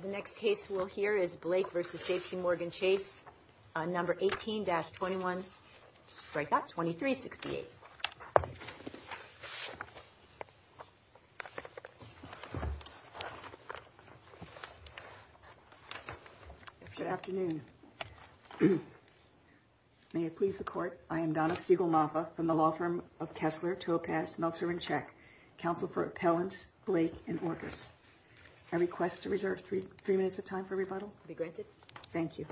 The next case we'll hear is Blake v. JP Morgan Chase, number 18-21, strikeout 2368. Good afternoon. May it please the court, I am Donna Siegel-Maffa from the law firm of Kessler, Topaz, Meltzer & Check, counsel for appellants Blake and Orkus. I request to reserve three minutes of time for rebuttal. Be granted. Thank you.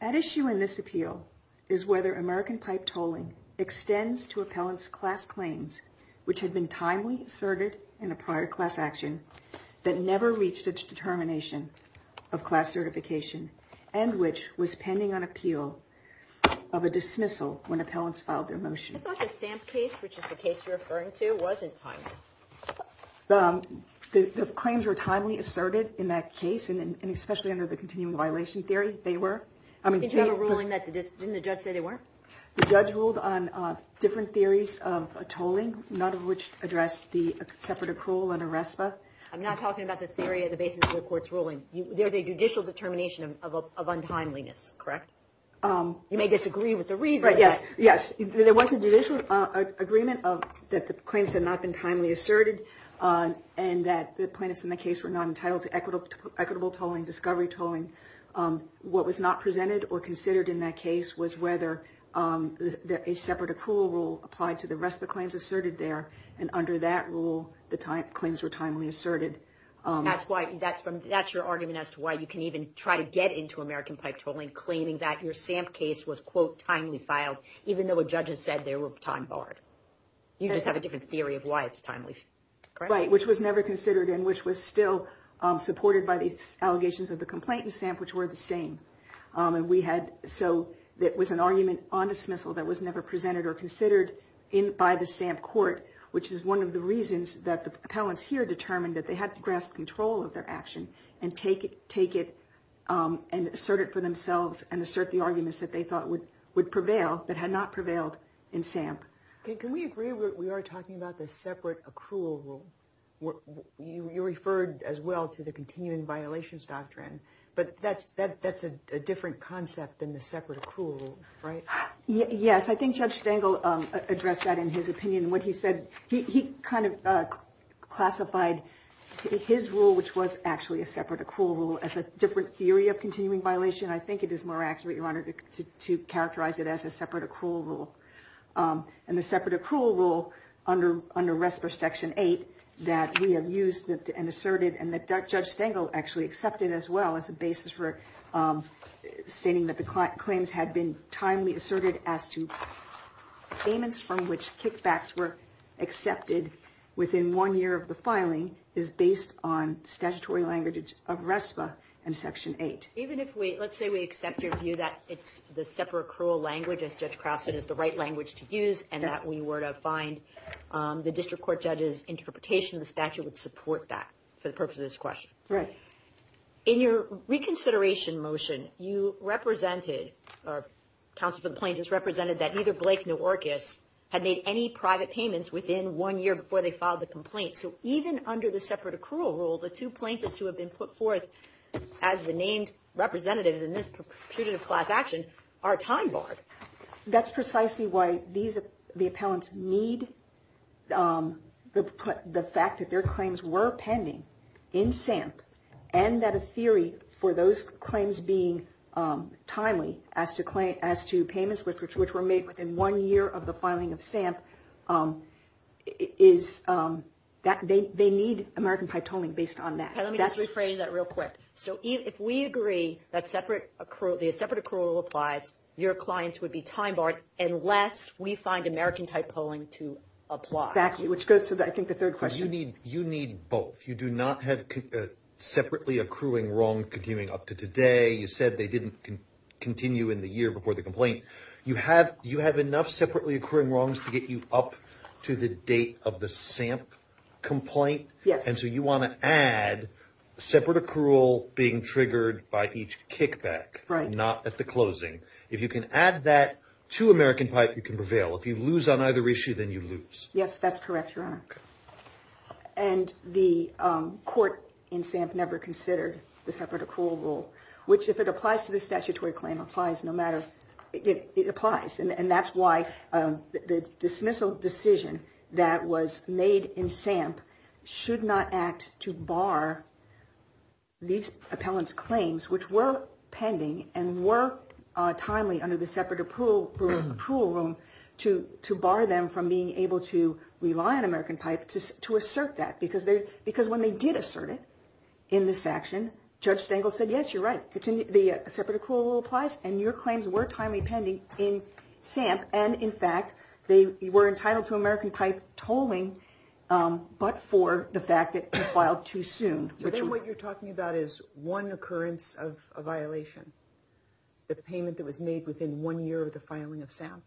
At issue in this appeal is whether American pipe tolling extends to appellants' class claims which had been timely asserted in a prior class action that never reached a determination of class certification and which was pending on appeal of a dismissal when appellants filed their motion. I thought the Samp case, which is the case you're referring to, wasn't timely. The claims were timely asserted in that case and especially under the continuing violation theory. Didn't the judge say they weren't? The judge ruled on different theories of tolling, none of which addressed the separate accrual under RESPA. I'm not talking about the theory of the basis of the court's ruling. There's a judicial determination of untimeliness, correct? You may disagree with the reason. Yes. There was a judicial agreement that the claims had not been timely asserted and that the plaintiffs in the case were not entitled to equitable tolling, discovery tolling. What was not presented or considered in that case was whether a separate accrual rule applied to the RESPA claims asserted there, and under that rule, the claims were timely asserted. That's your argument as to why you can even try to get into American pipe tolling, claiming that your Samp case was, quote, timely filed, even though a judge has said they were time barred. You just have a different theory of why it's timely. Right, which was never considered and which was still supported by the allegations of the complaint in Samp, which were the same. And we had so that was an argument on dismissal that was never presented or considered in by the Samp court, which is one of the reasons that the appellants here determined that they had to grasp control of their action and take it, take it and assert it for themselves and assert the arguments that they thought would would prevail that had not prevailed in Samp. Can we agree that we are talking about the separate accrual rule? You referred as well to the continuing violations doctrine, but that's that's a different concept than the separate accrual rule, right? Yes, I think Judge Stengel addressed that in his opinion when he said he kind of classified his rule, which was actually a separate accrual rule as a different theory of continuing violation. I think it is more accurate, Your Honor, to characterize it as a separate accrual rule. And the separate accrual rule under under RESPA Section 8 that we have used and asserted and that Judge Stengel actually accepted as well as a basis for stating that the claims had been timely asserted as to statements from which kickbacks were accepted within one year of the filing is based on statutory language of RESPA and Section 8. Even if we let's say we accept your view that it's the separate accrual language, as Judge Crouse said, is the right language to use and that we were to find the district court judge's interpretation of the statute would support that for the purpose of this question. Right. In your reconsideration motion, you represented or counsel for the plaintiffs represented that neither Blake nor Orcus had made any private payments within one year before they filed the complaint. So even under the separate accrual rule, the two plaintiffs who have been put forth as the named representatives in this class action are time barred. That's precisely why the appellants need the fact that their claims were pending in SAMP and that a theory for those claims being timely as to payments which were made within one year of the filing of SAMP is that they need American Pythoning based on that. Okay, let me just rephrase that real quick. So if we agree that the separate accrual applies, your clients would be time barred unless we find American-type polling to apply. Exactly, which goes to I think the third question. You need both. You do not have separately accruing wrong continuing up to today. You said they didn't continue in the year before the complaint. You have enough separately accruing wrongs to get you up to the date of the SAMP complaint? Yes. And so you want to add separate accrual being triggered by each kickback. Right. Not at the closing. If you can add that to American-type, you can prevail. If you lose on either issue, then you lose. Yes, that's correct, Your Honor. And the court in SAMP never considered the separate accrual rule, which if it applies to the statutory claim, it applies. And that's why the dismissal decision that was made in SAMP should not act to bar these appellants' claims, which were pending and were timely under the separate accrual rule to bar them from being able to rely on American-type to assert that. Because when they did assert it in this action, Judge Stengel said, yes, you're right. The separate accrual rule applies, and your claims were timely pending in SAMP. And in fact, they were entitled to American-type tolling, but for the fact that it filed too soon. So then what you're talking about is one occurrence of a violation, the payment that was made within one year of the filing of SAMP?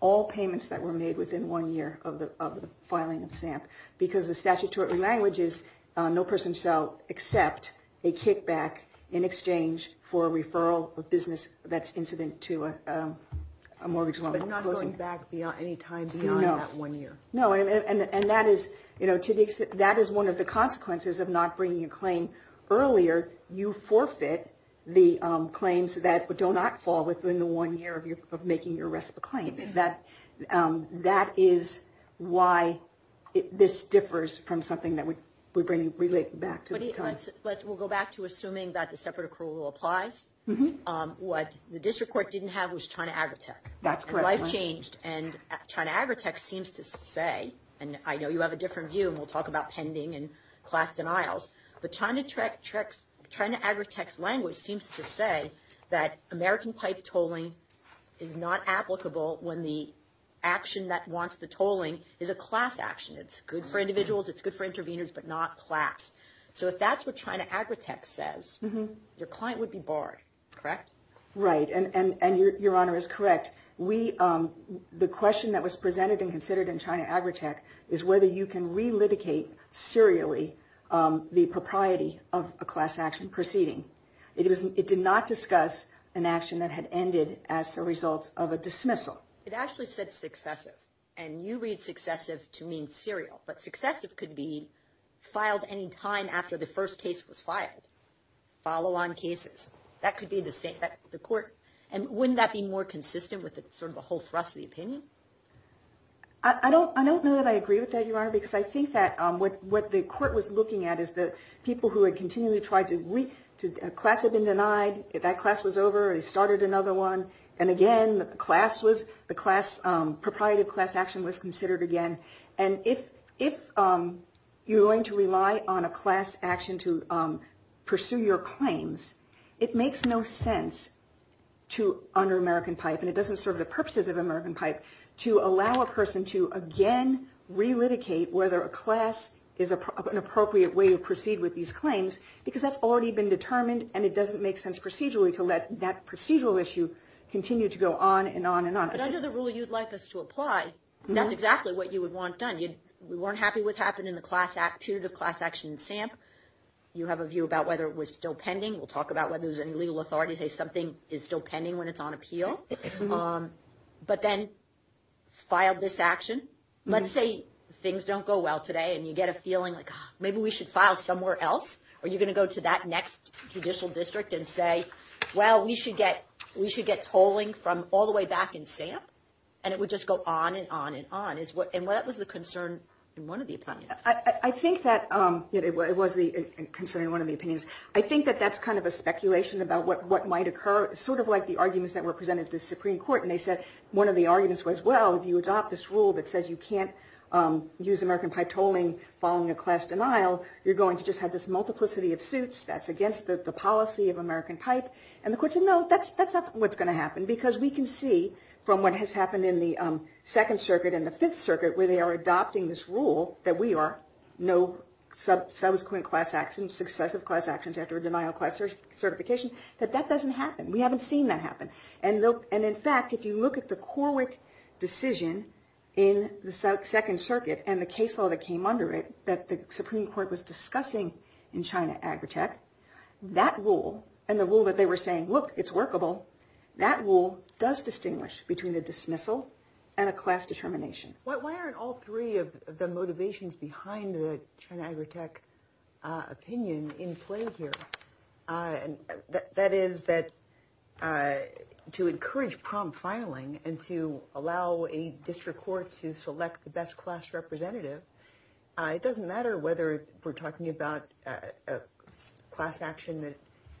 All payments that were made within one year of the filing of SAMP. Because the statutory language is no person shall accept a kickback in exchange for a referral of business that's incident to a mortgage loan. But not going back any time beyond that one year. No, and that is one of the consequences of not bringing a claim earlier. You forfeit the claims that do not fall within the one year of making your RESPA claim. That is why this differs from something that we relate back to. But we'll go back to assuming that the separate accrual rule applies. What the district court didn't have was China Agritech. That's correct. Life changed, and China Agritech seems to say, and I know you have a different view, and we'll talk about pending and class denials. But China Agritech's language seems to say that American-type tolling is not applicable when the action that wants the tolling is a class action. It's good for individuals, it's good for interveners, but not class. So if that's what China Agritech says, your client would be barred, correct? Right, and your Honor is correct. The question that was presented and considered in China Agritech is whether you can relitigate serially the propriety of a class action proceeding. It did not discuss an action that had ended as a result of a dismissal. It actually said successive, and you read successive to mean serial. But successive could be filed any time after the first case was filed. Follow-on cases. That could be the court. And wouldn't that be more consistent with sort of a whole thrust of the opinion? I don't know that I agree with that, Your Honor, because I think that what the court was looking at is the people who had continually tried to – a class had been denied, that class was over, they started another one. And again, the class was – the class – propriety of class action was considered again. And if you're going to rely on a class action to pursue your claims, it makes no sense to – under American PIPE, and it doesn't serve the purposes of American PIPE, to allow a person to again relitigate whether a class is an appropriate way to proceed with these claims, because that's already been determined and it doesn't make sense procedurally to let that procedural issue continue to go on and on and on. But under the rule you'd like us to apply, that's exactly what you would want done. We weren't happy with what happened in the period of class action in SAMP. You have a view about whether it was still pending. We'll talk about whether there was any legal authority to say something is still pending when it's on appeal. But then filed this action. Let's say things don't go well today and you get a feeling like maybe we should file somewhere else. Are you going to go to that next judicial district and say, well, we should get tolling from all the way back in SAMP? And it would just go on and on and on. And that was the concern in one of the opinions. I think that – it was the concern in one of the opinions. I think that that's kind of a speculation about what might occur, sort of like the arguments that were presented to the Supreme Court, and they said one of the arguments was, well, if you adopt this rule that says you can't use American PIPE tolling following a class denial, you're going to just have this multiplicity of suits. That's against the policy of American PIPE. And the court said, no, that's not what's going to happen, because we can see from what has happened in the Second Circuit and the Fifth Circuit, where they are adopting this rule that we are no subsequent class actions, successive class actions after a denial of class certification, that that doesn't happen. We haven't seen that happen. And in fact, if you look at the Corwick decision in the Second Circuit and the case law that came under it, that the Supreme Court was discussing in China Agritech, that rule and the rule that they were saying, look, it's workable, that rule does distinguish between a dismissal and a class determination. Why aren't all three of the motivations behind the China Agritech opinion in play here? That is that to encourage prompt filing and to allow a district court to select the best class representative, it doesn't matter whether we're talking about a class action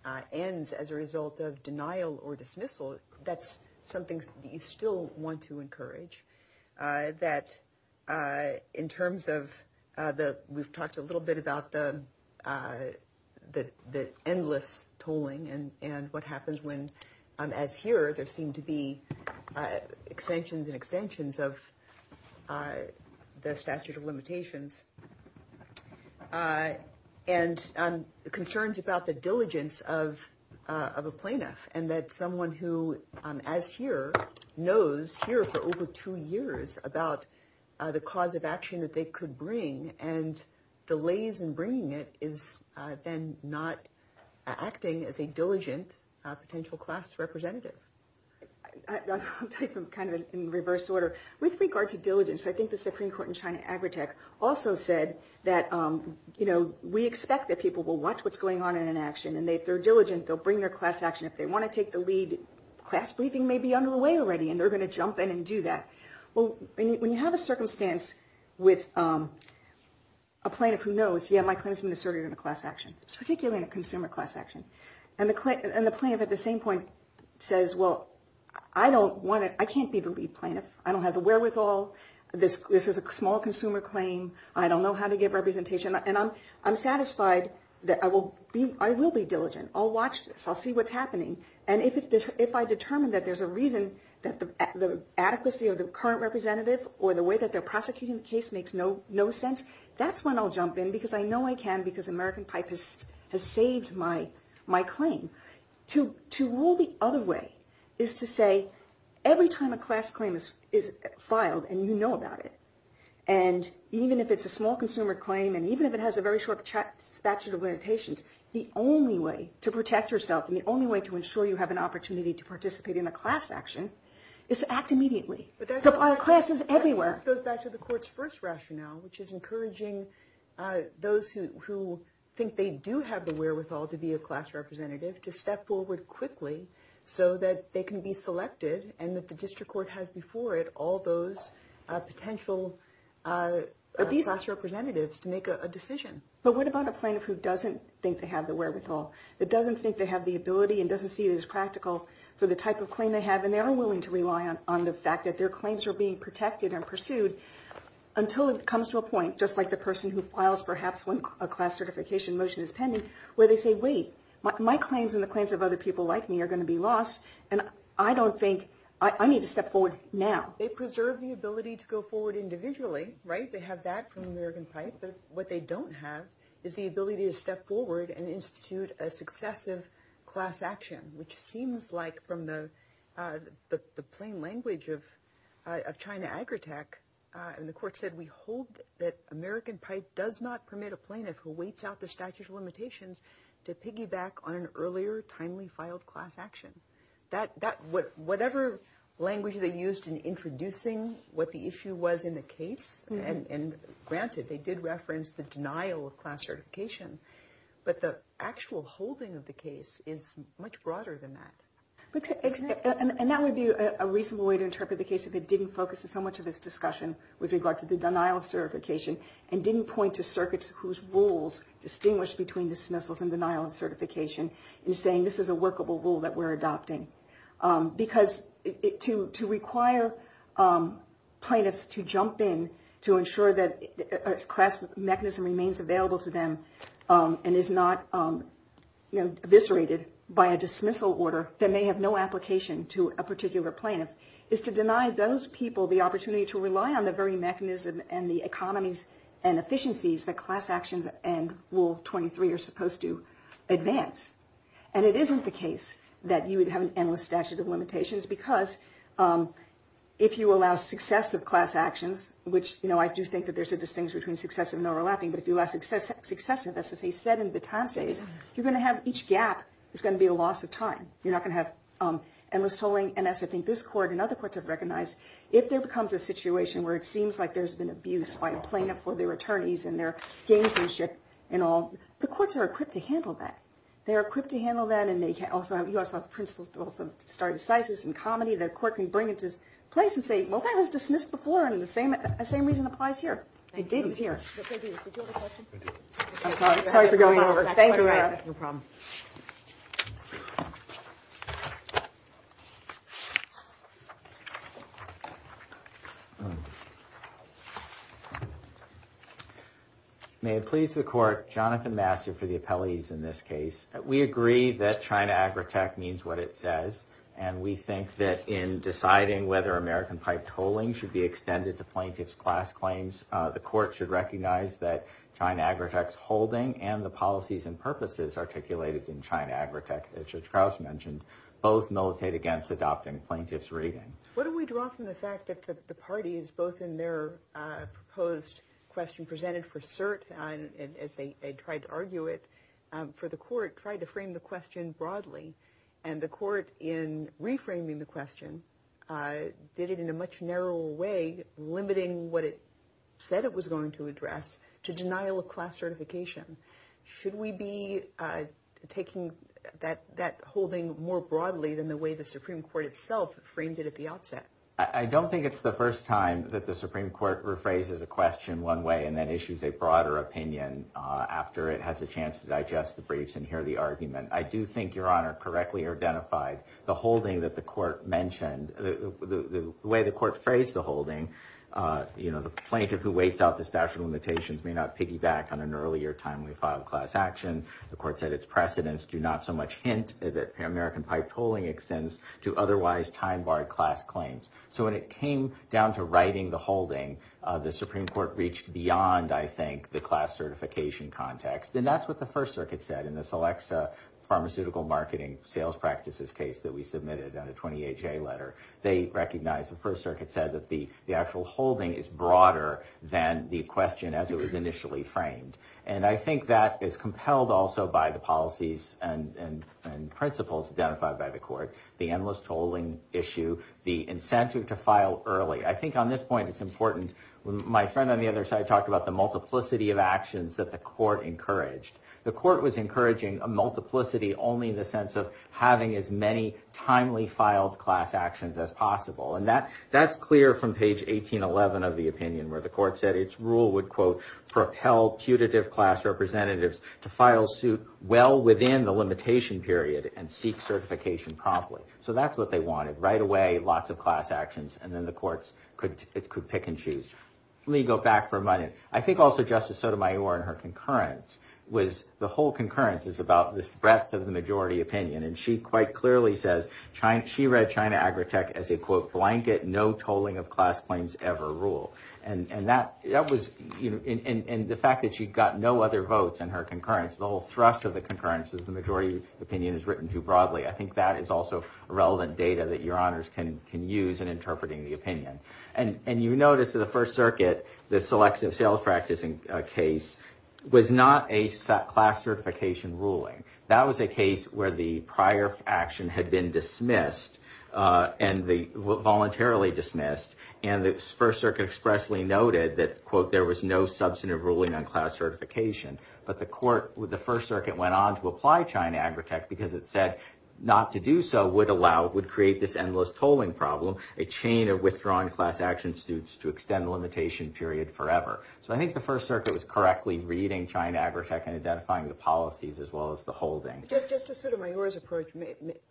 that ends as a result of denial or dismissal. That's something you still want to encourage. That in terms of the we've talked a little bit about the the endless tolling and what happens when, as here, there seem to be extensions and extensions of the statute of limitations. And the concerns about the diligence of of a plaintiff and that someone who, as here, knows here for over two years about the cause of action that they could bring and delays in bringing it, is then not acting as a diligent potential class representative. Take them kind of in reverse order with regard to diligence. I think the Supreme Court in China Agritech also said that, you know, we expect that people will watch what's going on in an action and they they're diligent. They'll bring their class action if they want to take the lead. Class briefing may be underway already and they're going to jump in and do that. Well, when you have a circumstance with a plaintiff who knows, yeah, my claim has been asserted in a class action, particularly in a consumer class action. And the plaintiff at the same point says, well, I don't want it. I can't be the lead plaintiff. I don't have the wherewithal. This is a small consumer claim. I don't know how to give representation. And I'm I'm satisfied that I will be I will be diligent. I'll watch this. I'll see what's happening. And if it's if I determine that there's a reason that the adequacy of the current representative or the way that they're prosecuting the case makes no no sense. That's when I'll jump in because I know I can because American pipe has has saved my my claim to to rule. The other way is to say every time a class claim is is filed and you know about it. And even if it's a small consumer claim and even if it has a very short statute of limitations, the only way to protect yourself and the only way to ensure you have an opportunity to participate in a class action is to act immediately. But there's a lot of classes everywhere. But that's what the court's first rationale, which is encouraging those who think they do have the wherewithal to be a class representative, to step forward quickly so that they can be selected and that the district court has before it all those potential of these class representatives to make a decision. But what about a plaintiff who doesn't think they have the wherewithal? It doesn't think they have the ability and doesn't see it as practical for the type of claim they have. And they are willing to rely on the fact that their claims are being protected and pursued until it comes to a point, just like the person who files perhaps when a class certification motion is pending, where they say, wait, my claims and the claims of other people like me are going to be lost. And I don't think I need to step forward now. They preserve the ability to go forward individually. Right. They have that from American Pipe. What they don't have is the ability to step forward and institute a successive class action, which seems like from the plain language of China Agrotech. And the court said, we hold that American Pipe does not permit a plaintiff who waits out the statute of limitations to piggyback on an earlier, and granted they did reference the denial of class certification. But the actual holding of the case is much broader than that. And that would be a reasonable way to interpret the case if it didn't focus on so much of this discussion with regard to the denial of certification and didn't point to circuits whose rules distinguish between dismissals and denial of certification and saying this is a workable rule that we're adopting. Because to require plaintiffs to jump in to ensure that a class mechanism remains available to them and is not eviscerated by a dismissal order that may have no application to a particular plaintiff, is to deny those people the opportunity to rely on the very mechanism and the economies and efficiencies that class actions and Rule 23 are supposed to advance. And it isn't the case that you would have an endless statute of limitations, because if you allow successive class actions, which I do think that there's a distinction between successive and overlapping, but if you allow successive, as he said in the time phase, you're going to have each gap is going to be a loss of time. You're not going to have endless tolling. And as I think this court and other courts have recognized, if there becomes a situation where it seems like there's been abuse by a plaintiff or their attorneys and their gamesmanship and all, the courts are equipped to handle that. They're equipped to handle that. And you also have principles of stare decisis and comedy that a court can bring into place and say, well, that was dismissed before and the same reason applies here. I'm sorry for going over. Thank you. No problem. May it please the court. Jonathan Massey for the appellees in this case. We agree that China agri tech means what it says. And we think that in deciding whether American pipe tolling should be extended to plaintiff's class claims, the court should recognize that China agri tech's holding and the policies and purposes articulated in China agri tech, as you mentioned, both militate against adopting plaintiff's reading. What do we draw from the fact that the parties, both in their proposed question presented for cert and as they tried to argue it for the court, tried to frame the question broadly and the court in reframing the question did it in a much narrower way, limiting what it said it was going to address to denial of class certification. Should we be taking that that holding more broadly than the way the Supreme Court itself framed it at the outset? I don't think it's the first time that the Supreme Court rephrases a question one way and then issues a broader opinion after it has a chance to digest the briefs and hear the argument. I do think your honor correctly identified the holding that the court mentioned, the way the court phrased the holding. You know, the plaintiff who waits out the statute of limitations may not piggyback on an earlier time we filed class action. The court said its precedents do not so much hint that American pipe tolling extends to otherwise time barred class claims. So when it came down to writing the holding, the Supreme Court reached beyond, I think, the class certification context. And that's what the First Circuit said in this Alexa pharmaceutical marketing sales practices case that we submitted on a 28 day letter. They recognize the First Circuit said that the actual holding is broader than the question as it was initially framed. And I think that is compelled also by the policies and principles identified by the court. The endless tolling issue, the incentive to file early. I think on this point, it's important. My friend on the other side talked about the multiplicity of actions that the court encouraged. The court was encouraging a multiplicity only in the sense of having as many timely filed class actions as possible. And that that's clear from page 18, 11 of the opinion where the court said its rule would, quote, propel putative class representatives to file suit well within the limitation period and seek certification promptly. So that's what they wanted right away. Lots of class actions. And then the courts could pick and choose. Let me go back for a minute. I think also Justice Sotomayor and her concurrence was the whole concurrence is about this breadth of the majority opinion. And she quite clearly says she read China Agritech as a, quote, blanket, no tolling of class claims ever rule. And that that was in the fact that she'd got no other votes in her concurrence. The whole thrust of the concurrence is the majority opinion is written too broadly. I think that is also relevant data that your honors can can use in interpreting the opinion. And you notice that the First Circuit, the selective sales practicing case was not a set class certification ruling. That was a case where the prior action had been dismissed and the voluntarily dismissed. And the First Circuit expressly noted that, quote, there was no substantive ruling on class certification. But the court with the First Circuit went on to apply China Agritech because it said not to do so would allow, would create this endless tolling problem, a chain of withdrawing class action suits to extend the limitation period forever. So I think the First Circuit was correctly reading China Agritech and identifying the policies as well as the holding. Justice Sotomayor's approach,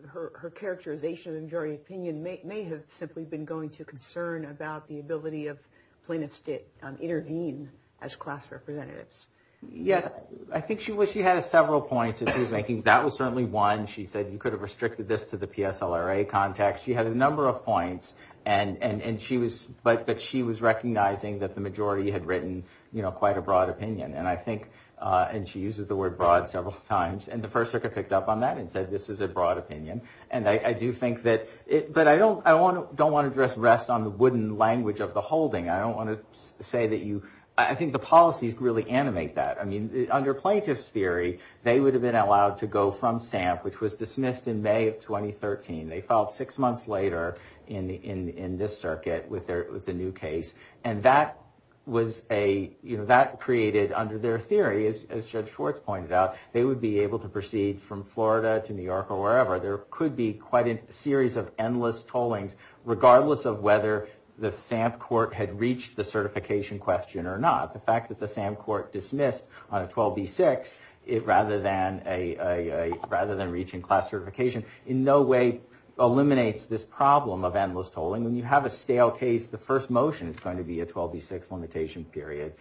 her characterization of the majority opinion may have simply been going to concern about the ability of plaintiffs to intervene as class representatives. Yes, I think she was. She had several points. I think that was certainly one. She said you could have restricted this to the PSLRA context. She had a number of points and she was but but she was recognizing that the majority had written, you know, quite a broad opinion. And I think and she uses the word broad several times. And the First Circuit picked up on that and said this is a broad opinion. And I do think that it but I don't I want to don't want to just rest on the wooden language of the holding. I don't want to say that you I think the policies really animate that. I mean, under plaintiff's theory, they would have been allowed to go from SAMP, which was dismissed in May of 2013. They filed six months later in the in this circuit with their with the new case. And that was a you know, that created under their theory, as Judge Schwartz pointed out, they would be able to proceed from Florida to New York or wherever. There could be quite a series of endless tollings, regardless of whether the SAMP court had reached the certification question or not. The fact that the same court dismissed on a 12B6 rather than a rather than reaching class certification in no way eliminates this problem of endless tolling. When you have a stale case, the first motion is going to be a 12B6 limitation period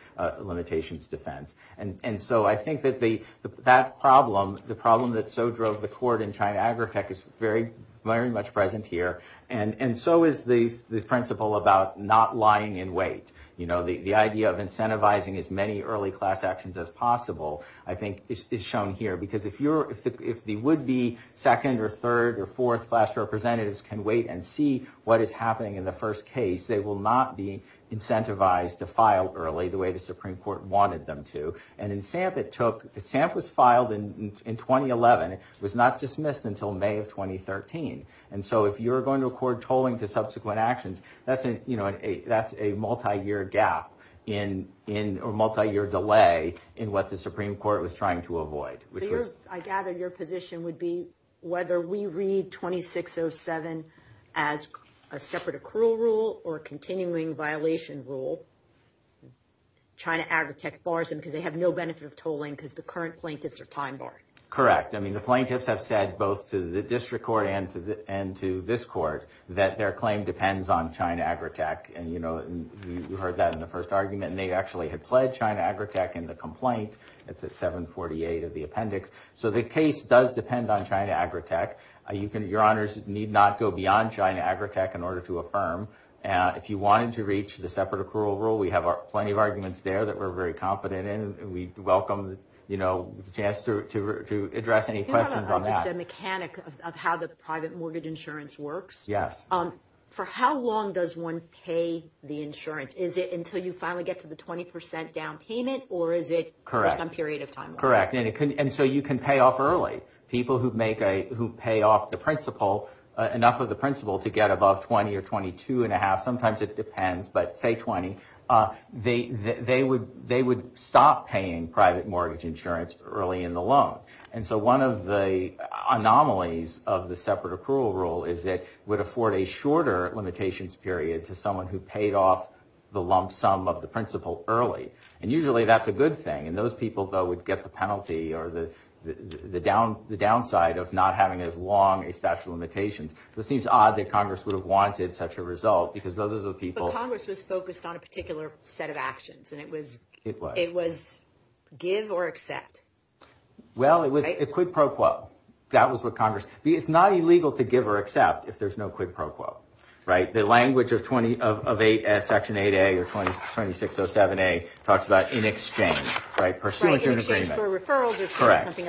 limitations defense. And so I think that the that problem, the problem that so drove the court in China, Agritech is very, very much present here. And so is the principle about not lying in wait. You know, the idea of incentivizing as many early class actions as possible, I think, is shown here. Because if you're if the if the would be second or third or fourth class representatives can wait and see what is happening in the first case, they will not be incentivized to file early the way the Supreme Court wanted them to. And in SAMP, it took the SAMP was filed in 2011. It was not dismissed until May of 2013. And so if you're going to accord tolling to subsequent actions, that's, you know, that's a multi-year gap in in a multi-year delay in what the Supreme Court was trying to avoid. I gather your position would be whether we read 2607 as a separate accrual rule or a continuing violation rule. China, Agritech bars them because they have no benefit of tolling because the current plaintiffs are time barred. Correct. I mean, the plaintiffs have said both to the district court and to and to this court that their claim depends on China, Agritech. And, you know, you heard that in the first argument and they actually had pledged China, Agritech in the complaint. It's at 748 of the appendix. So the case does depend on China, Agritech. You can your honors need not go beyond China, Agritech in order to affirm. If you wanted to reach the separate accrual rule, we have plenty of arguments there that we're very confident in. We welcome, you know, the chance to address any questions on that mechanic of how the private mortgage insurance works. Yes. For how long does one pay the insurance? Is it until you finally get to the 20 percent down payment or is it correct? Some period of time. Correct. And so you can pay off early people who make a who pay off the principal enough of the principal to get above 20 or 22 and a half. Sometimes it depends, but say 20. They they would they would stop paying private mortgage insurance early in the loan. And so one of the anomalies of the separate accrual rule is it would afford a shorter limitations period to someone who paid off the lump sum of the principal early. And usually that's a good thing. And those people, though, would get the penalty or the down the downside of not having as long a statute of limitations. It seems odd that Congress would have wanted such a result because those are the people Congress was focused on a particular set of actions. And it was it was it was give or accept. Well, it was a quid pro quo. That was what Congress. It's not illegal to give or accept if there's no quid pro quo. Right. The language of 20 of eight as Section 8 or 20, 20, 607 a talks about in exchange. Right. Pursuant to an agreement. Correct.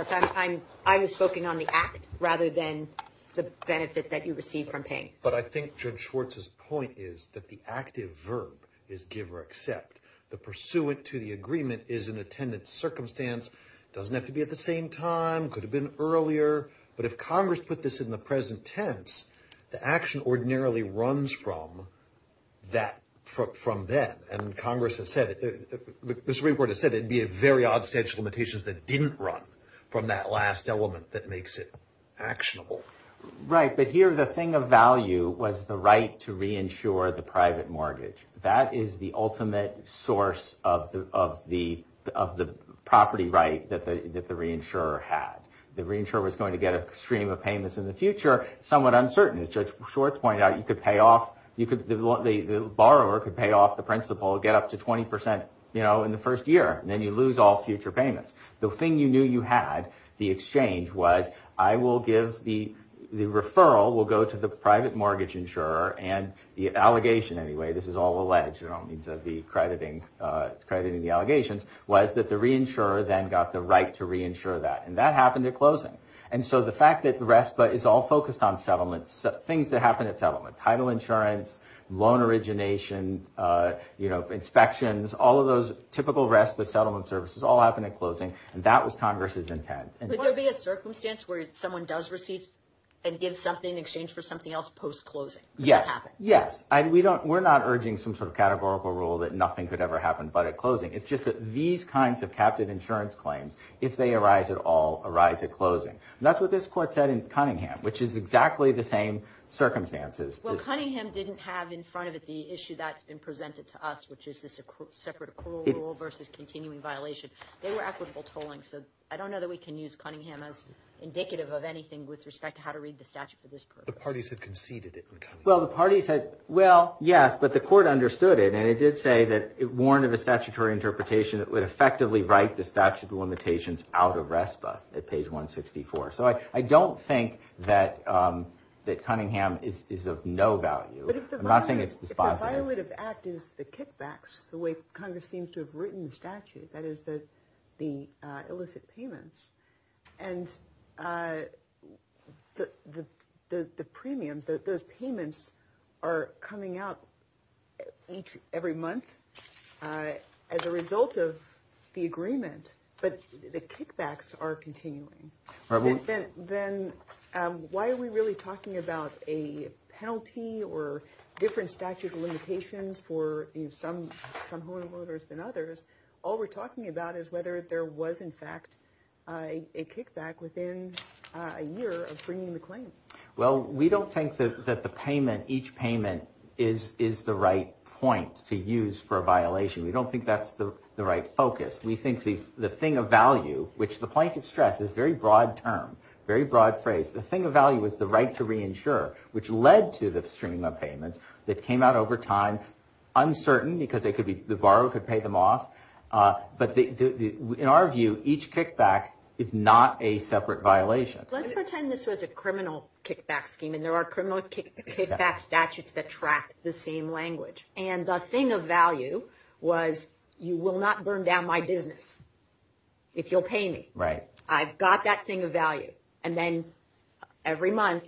I was spoken on the act rather than the benefit that you receive from paying. But I think George Schwartz's point is that the active verb is give or accept. The pursuant to the agreement is an attendant circumstance. Doesn't have to be at the same time. Could have been earlier. But if Congress put this in the present tense, the action ordinarily runs from that from then. And Congress has said this report has said it'd be a very odd statute of limitations that didn't run from that last element that makes it actionable. Right. But here, the thing of value was the right to reinsure the private mortgage. That is the ultimate source of the of the of the property right that the that the reinsurer had. The reinsurer was going to get a stream of payments in the future. Somewhat uncertain. And as Judge Schwartz pointed out, you could pay off. You could. The borrower could pay off the principal. Get up to 20 percent, you know, in the first year. Then you lose all future payments. The thing you knew you had the exchange was I will give the the referral will go to the private mortgage insurer and the allegation. Anyway, this is all alleged to be crediting crediting the allegations was that the reinsurer then got the right to reinsure that. And that happened at closing. And so the fact that the rest is all focused on settlements, things that happen at settlement title insurance, loan origination, you know, inspections, all of those typical rest, the settlement services all happen at closing. And that was Congress's intent. And there'll be a circumstance where someone does receive and give something in exchange for something else post-closing. Yes. Yes. We don't we're not urging some sort of categorical rule that nothing could ever happen. But at closing, it's just that these kinds of captive insurance claims, if they arise at all, arise at closing. That's what this court said in Cunningham, which is exactly the same circumstances. Well, Cunningham didn't have in front of it the issue that's been presented to us, which is this separate rule versus continuing violation. They were equitable tolling. So I don't know that we can use Cunningham as indicative of anything with respect to how to read the statute for this. The parties had conceded it. Well, the party said, well, yes, but the court understood it. And it did say that it warned of a statutory interpretation that would effectively write the statute of limitations out of RESPA at page 164. So I don't think that that Cunningham is of no value. But if I'm not saying it's the violative act is the kickbacks, the way Congress seems to have written the statute, that is that the illicit payments. And the premiums, those payments are coming out each every month as a result of the agreement. But the kickbacks are continuing. Then why are we really talking about a penalty or different statute of limitations for some homeowners than others? All we're talking about is whether there was, in fact, a kickback within a year of bringing the claim. Well, we don't think that the payment, each payment is is the right point to use for a violation. We don't think that's the right focus. We think the thing of value, which the point of stress is very broad term, very broad phrase. The thing of value is the right to reinsure, which led to the streaming of payments that came out over time. Uncertain because they could be the borrower could pay them off. But in our view, each kickback is not a separate violation. Let's pretend this was a criminal kickback scheme and there are criminal kickback statutes that track the same language. And the thing of value was you will not burn down my business if you'll pay me. Right. I've got that thing of value. And then every month,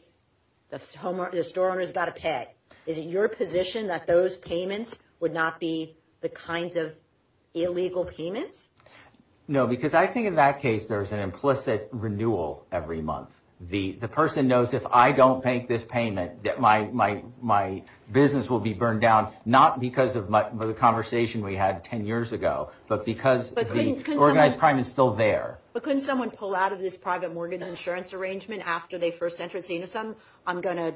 the store owner has got to pay. Is it your position that those payments would not be the kinds of illegal payments? No, because I think in that case, there is an implicit renewal every month. The person knows if I don't make this payment, my business will be burned down. Not because of the conversation we had 10 years ago, but because the organized crime is still there. But couldn't someone pull out of this private mortgage insurance arrangement after they first entered? So, you know, some I'm going to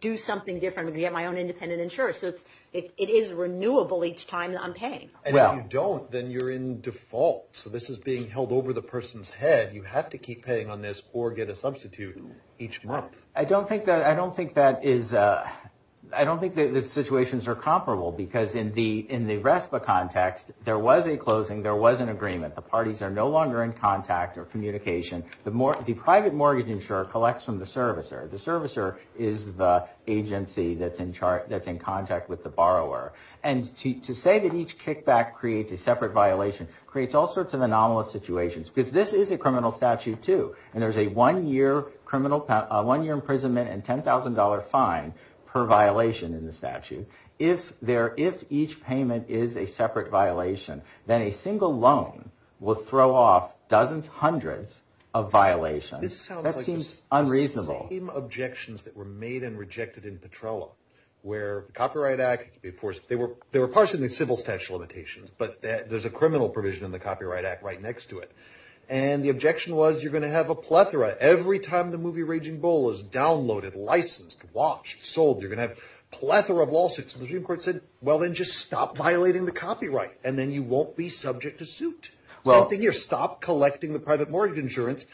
do something different to get my own independent insurance. So it is renewable each time I'm paying. And if you don't, then you're in default. So this is being held over the person's head. You have to keep paying on this or get a substitute each month. I don't think that I don't think that is. I don't think the situations are comparable because in the in the rest of the context, there was a closing. There was an agreement. The parties are no longer in contact or communication. The private mortgage insurer collects from the servicer. The servicer is the agency that's in charge, that's in contact with the borrower. And to say that each kickback creates a separate violation creates all sorts of anomalous situations. Because this is a criminal statute, too. And there's a one year criminal, one year imprisonment and $10,000 fine per violation in the statute. If there if each payment is a separate violation, then a single loan will throw off dozens, hundreds of violations. That seems unreasonable. Objections that were made and rejected in Petrella, where the Copyright Act, of course, they were they were partially civil statute limitations. But there's a criminal provision in the Copyright Act right next to it. And the objection was you're going to have a plethora every time the movie Raging Bull is downloaded, licensed, watched, sold. You're going to have a plethora of lawsuits. The Supreme Court said, well, then just stop violating the copyright and then you won't be subject to suit. Well, I think you're stop collecting the private mortgage insurance.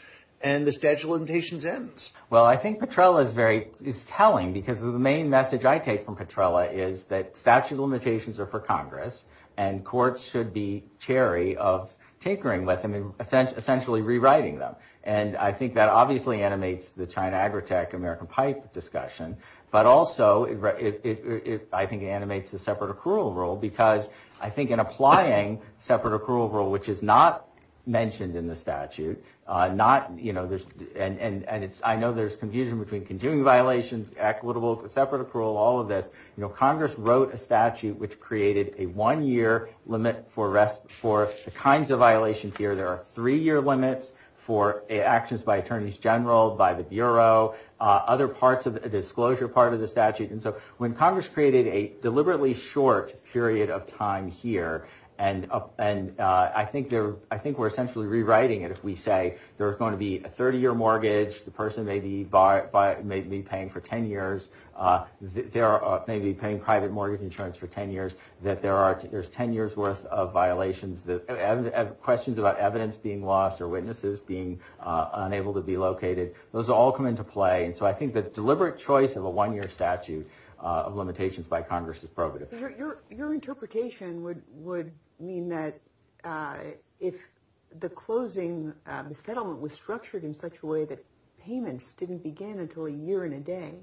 And the statute of limitations ends. Well, I think Petrella is very is telling because of the main message I take from Petrella is that statute of limitations are for Congress. And courts should be cherry of tinkering with them and essentially rewriting them. And I think that obviously animates the China, Agritech, American Pipe discussion. But also it I think animates the separate accrual rule, because I think in applying separate accrual rule, which is not mentioned in the statute, not, you know, and I know there's confusion between continuing violations, equitable, separate accrual, all of this. You know, Congress wrote a statute which created a one year limit for rest for the kinds of violations here. There are three year limits for actions by attorneys general, by the bureau, other parts of the disclosure part of the statute. And so when Congress created a deliberately short period of time here and up and I think there I think we're essentially rewriting it. If we say there is going to be a 30 year mortgage, the person may be by by maybe paying for 10 years. There are maybe paying private mortgage insurance for 10 years that there are there's 10 years worth of violations. The questions about evidence being lost or witnesses being unable to be located. Those all come into play. And so I think that deliberate choice of a one year statute of limitations by Congress is probative. Your interpretation would would mean that if the closing settlement was structured in such a way that payments didn't begin until a year and a day.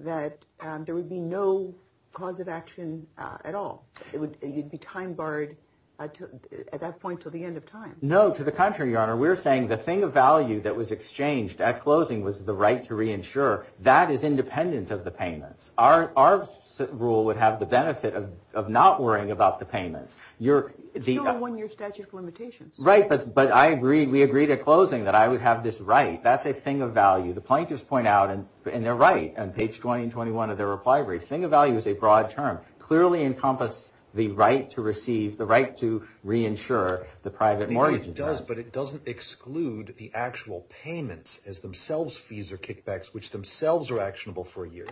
That there would be no cause of action at all. It would be time barred at that point to the end of time. No, to the contrary, your honor. We're saying the thing of value that was exchanged at closing was the right to reinsure. That is independent of the payments. Our our rule would have the benefit of not worrying about the payments. You're the one year statute of limitations. Right. But but I agree. We agreed at closing that I would have this right. That's a thing of value. The plaintiffs point out and they're right on page 20 and 21 of their reply. Everything of value is a broad term, clearly encompass the right to receive the right to reinsure the private mortgage. It does, but it doesn't exclude the actual payments as themselves. Fees are kickbacks which themselves are actionable for a year.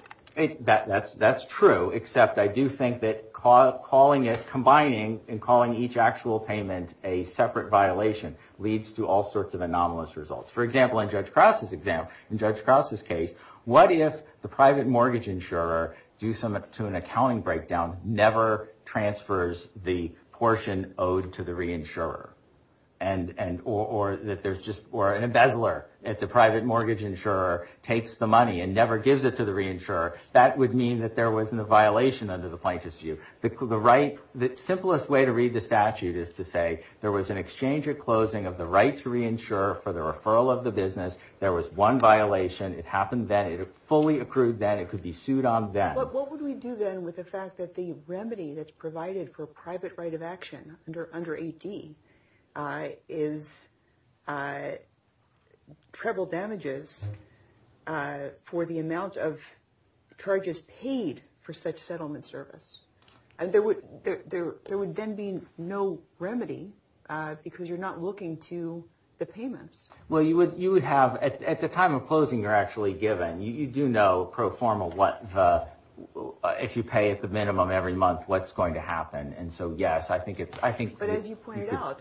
That's that's true. Except I do think that calling it combining and calling each actual payment a separate violation leads to all sorts of anomalous results. For example, in Judge Cross's example, in Judge Cross's case. What if the private mortgage insurer do some to an accounting breakdown? Never transfers the portion owed to the reinsurer. And and or that there's just or an embezzler at the private mortgage insurer takes the money and never gives it to the reinsurer. That would mean that there was a violation under the plaintiff's view. The simplest way to read the statute is to say there was an exchange at closing of the right to reinsure for the referral of the business. There was one violation. It happened that it fully accrued that it could be sued on that. What would we do then with the fact that the remedy that's provided for private right of action under under 80 is. Treble damages for the amount of charges paid for such settlement service. And there would there would then be no remedy because you're not looking to the payments. Well, you would you would have at the time of closing, you're actually given you do know pro forma. What if you pay at the minimum every month, what's going to happen? And so, yes, I think it's I think as you pointed out,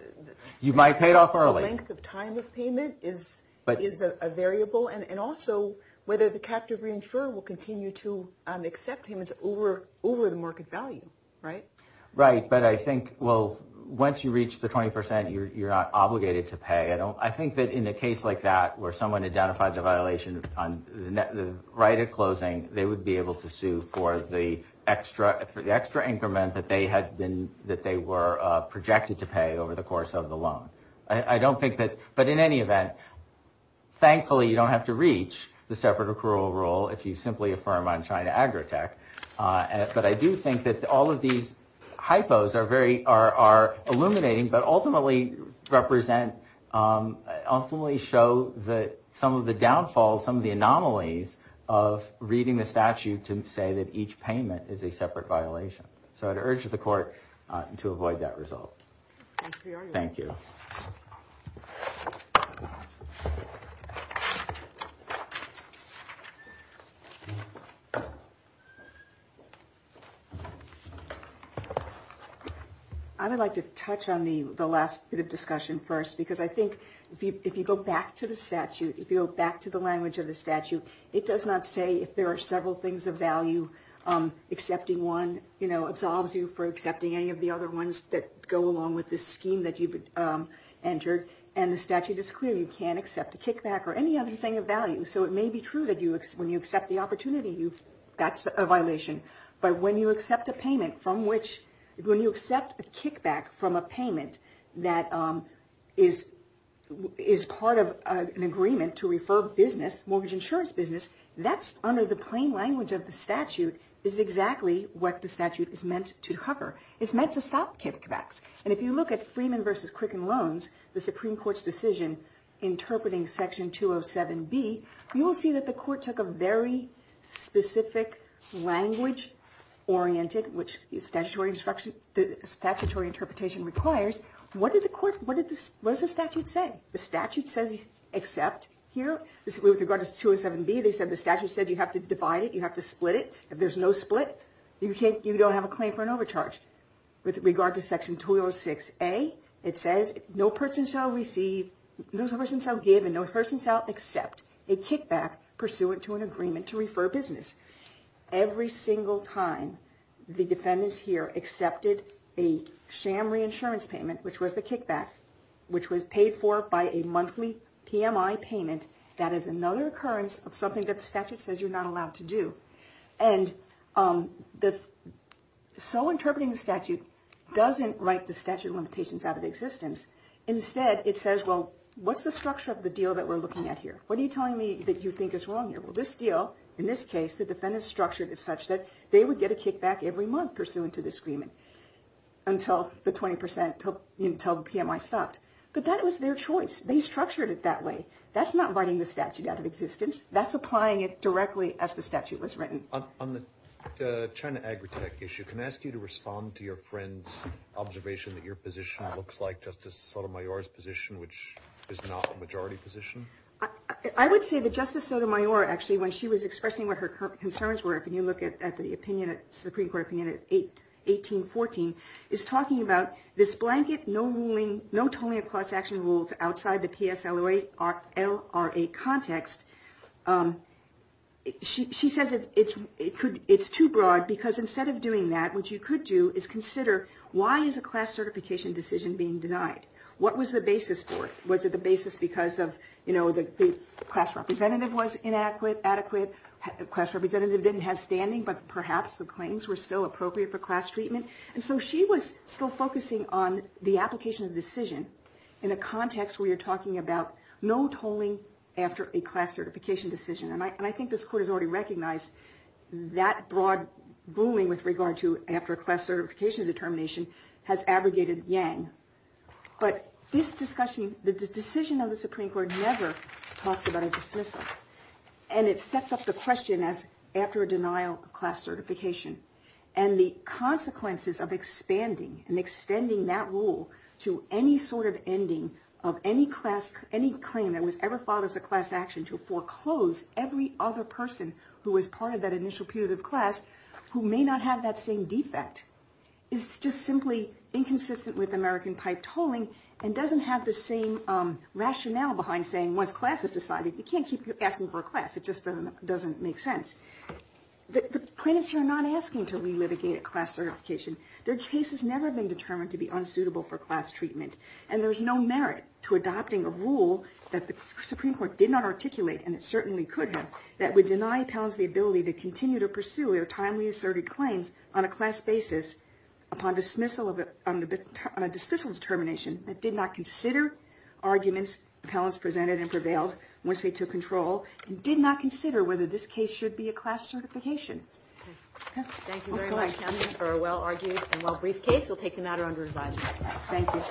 you might pay it off early. The time of payment is but is a variable and also whether the captive reinsurer will continue to accept payments over over the market value. Right. Right. But I think, well, once you reach the 20 percent, you're not obligated to pay. I don't I think that in a case like that where someone identified the violation on the right at closing, they would be able to sue for the extra for the extra increment that they had been that they were projected to pay over the course of the loan. I don't think that. But in any event, thankfully, you don't have to reach the separate accrual rule if you simply affirm I'm trying to agritech. But I do think that all of these hypos are very are are illuminating, but ultimately represent ultimately show that some of the downfalls, some of the anomalies of reading the statute to say that each payment is a separate violation. So I'd urge the court to avoid that result. Thank you. I would like to touch on the last bit of discussion first, because I think if you go back to the statute, if you go back to the language of the statute, it does not say if there are several things of value. Accepting one, you know, absolves you for accepting any of the other ones that go along with the scheme that you've entered. And the statute is clear. You can't accept a kickback or any other thing of value. So it may be true that you when you accept the opportunity, you've that's a violation. But when you accept a payment from which when you accept a kickback from a payment that is is part of an agreement to refer business mortgage insurance business, that's under the plain language of the statute is exactly what the statute is meant to cover. It's meant to stop kickbacks. And if you look at Freeman versus Quicken Loans, the Supreme Court's decision, interpreting Section 207B, you will see that the court took a very specific language oriented, which is statutory instruction. Statutory interpretation requires. What did the court what did this was the statute say? The statute says except here with regard to 207B, they said the statute said you have to divide it. You have to split it. If there's no split, you can't you don't have a claim for an overcharge with regard to Section 206A. It says no person shall receive, no person shall give and no person shall accept a kickback pursuant to an agreement to refer business. Every single time the defendants here accepted a sham reinsurance payment, which was the kickback, which was paid for by a monthly PMI payment. That is another occurrence of something that the statute says you're not allowed to do. And so interpreting the statute doesn't write the statute limitations out of existence. Instead, it says, well, what's the structure of the deal that we're looking at here? What are you telling me that you think is wrong here? Well, this deal, in this case, the defendants structured it such that they would get a kickback every month pursuant to this agreement. Until the 20 percent until PMI stopped. But that was their choice. They structured it that way. That's not writing the statute out of existence. That's applying it directly as the statute was written. On the China Agritech issue, can I ask you to respond to your friend's observation that your position looks like Justice Sotomayor's position, which is not a majority position? I would say that Justice Sotomayor, actually, when she was expressing what her concerns were, when you look at the Supreme Court opinion in 1814, is talking about this blanket, no ruling, no totaling of class action rules outside the PSLRA context. She says it's too broad because instead of doing that, what you could do is consider, why is a class certification decision being denied? What was the basis for it? Was it the basis because the class representative was inadequate, adequate? The class representative didn't have standing, but perhaps the claims were still appropriate for class treatment. And so she was still focusing on the application of the decision in a context where you're talking about no toling after a class certification decision. And I think this Court has already recognized that broad ruling with regard to after a class certification determination has abrogated Yang. But this discussion, the decision of the Supreme Court never talks about a dismissal. And it sets up the question as after a denial of class certification. And the consequences of expanding and extending that rule to any sort of ending of any claim that was ever filed as a class action to foreclose every other person who was part of that initial period of class, who may not have that same defect, is just simply inconsistent with American pipe toling and doesn't have the same rationale behind saying once class is decided, you can't keep asking for a class. It just doesn't make sense. The plaintiffs here are not asking to relitigate a class certification. Their case has never been determined to be unsuitable for class treatment. And there's no merit to adopting a rule that the Supreme Court did not articulate, and it certainly could have, that would deny appellants the ability to continue to pursue their timely asserted claims on a class basis upon dismissal determination that did not consider arguments appellants presented and prevailed once they took control and did not consider whether this case should be a class certification. Thank you very much for a well-argued and well-briefed case. We'll take the matter under advisement. Thank you.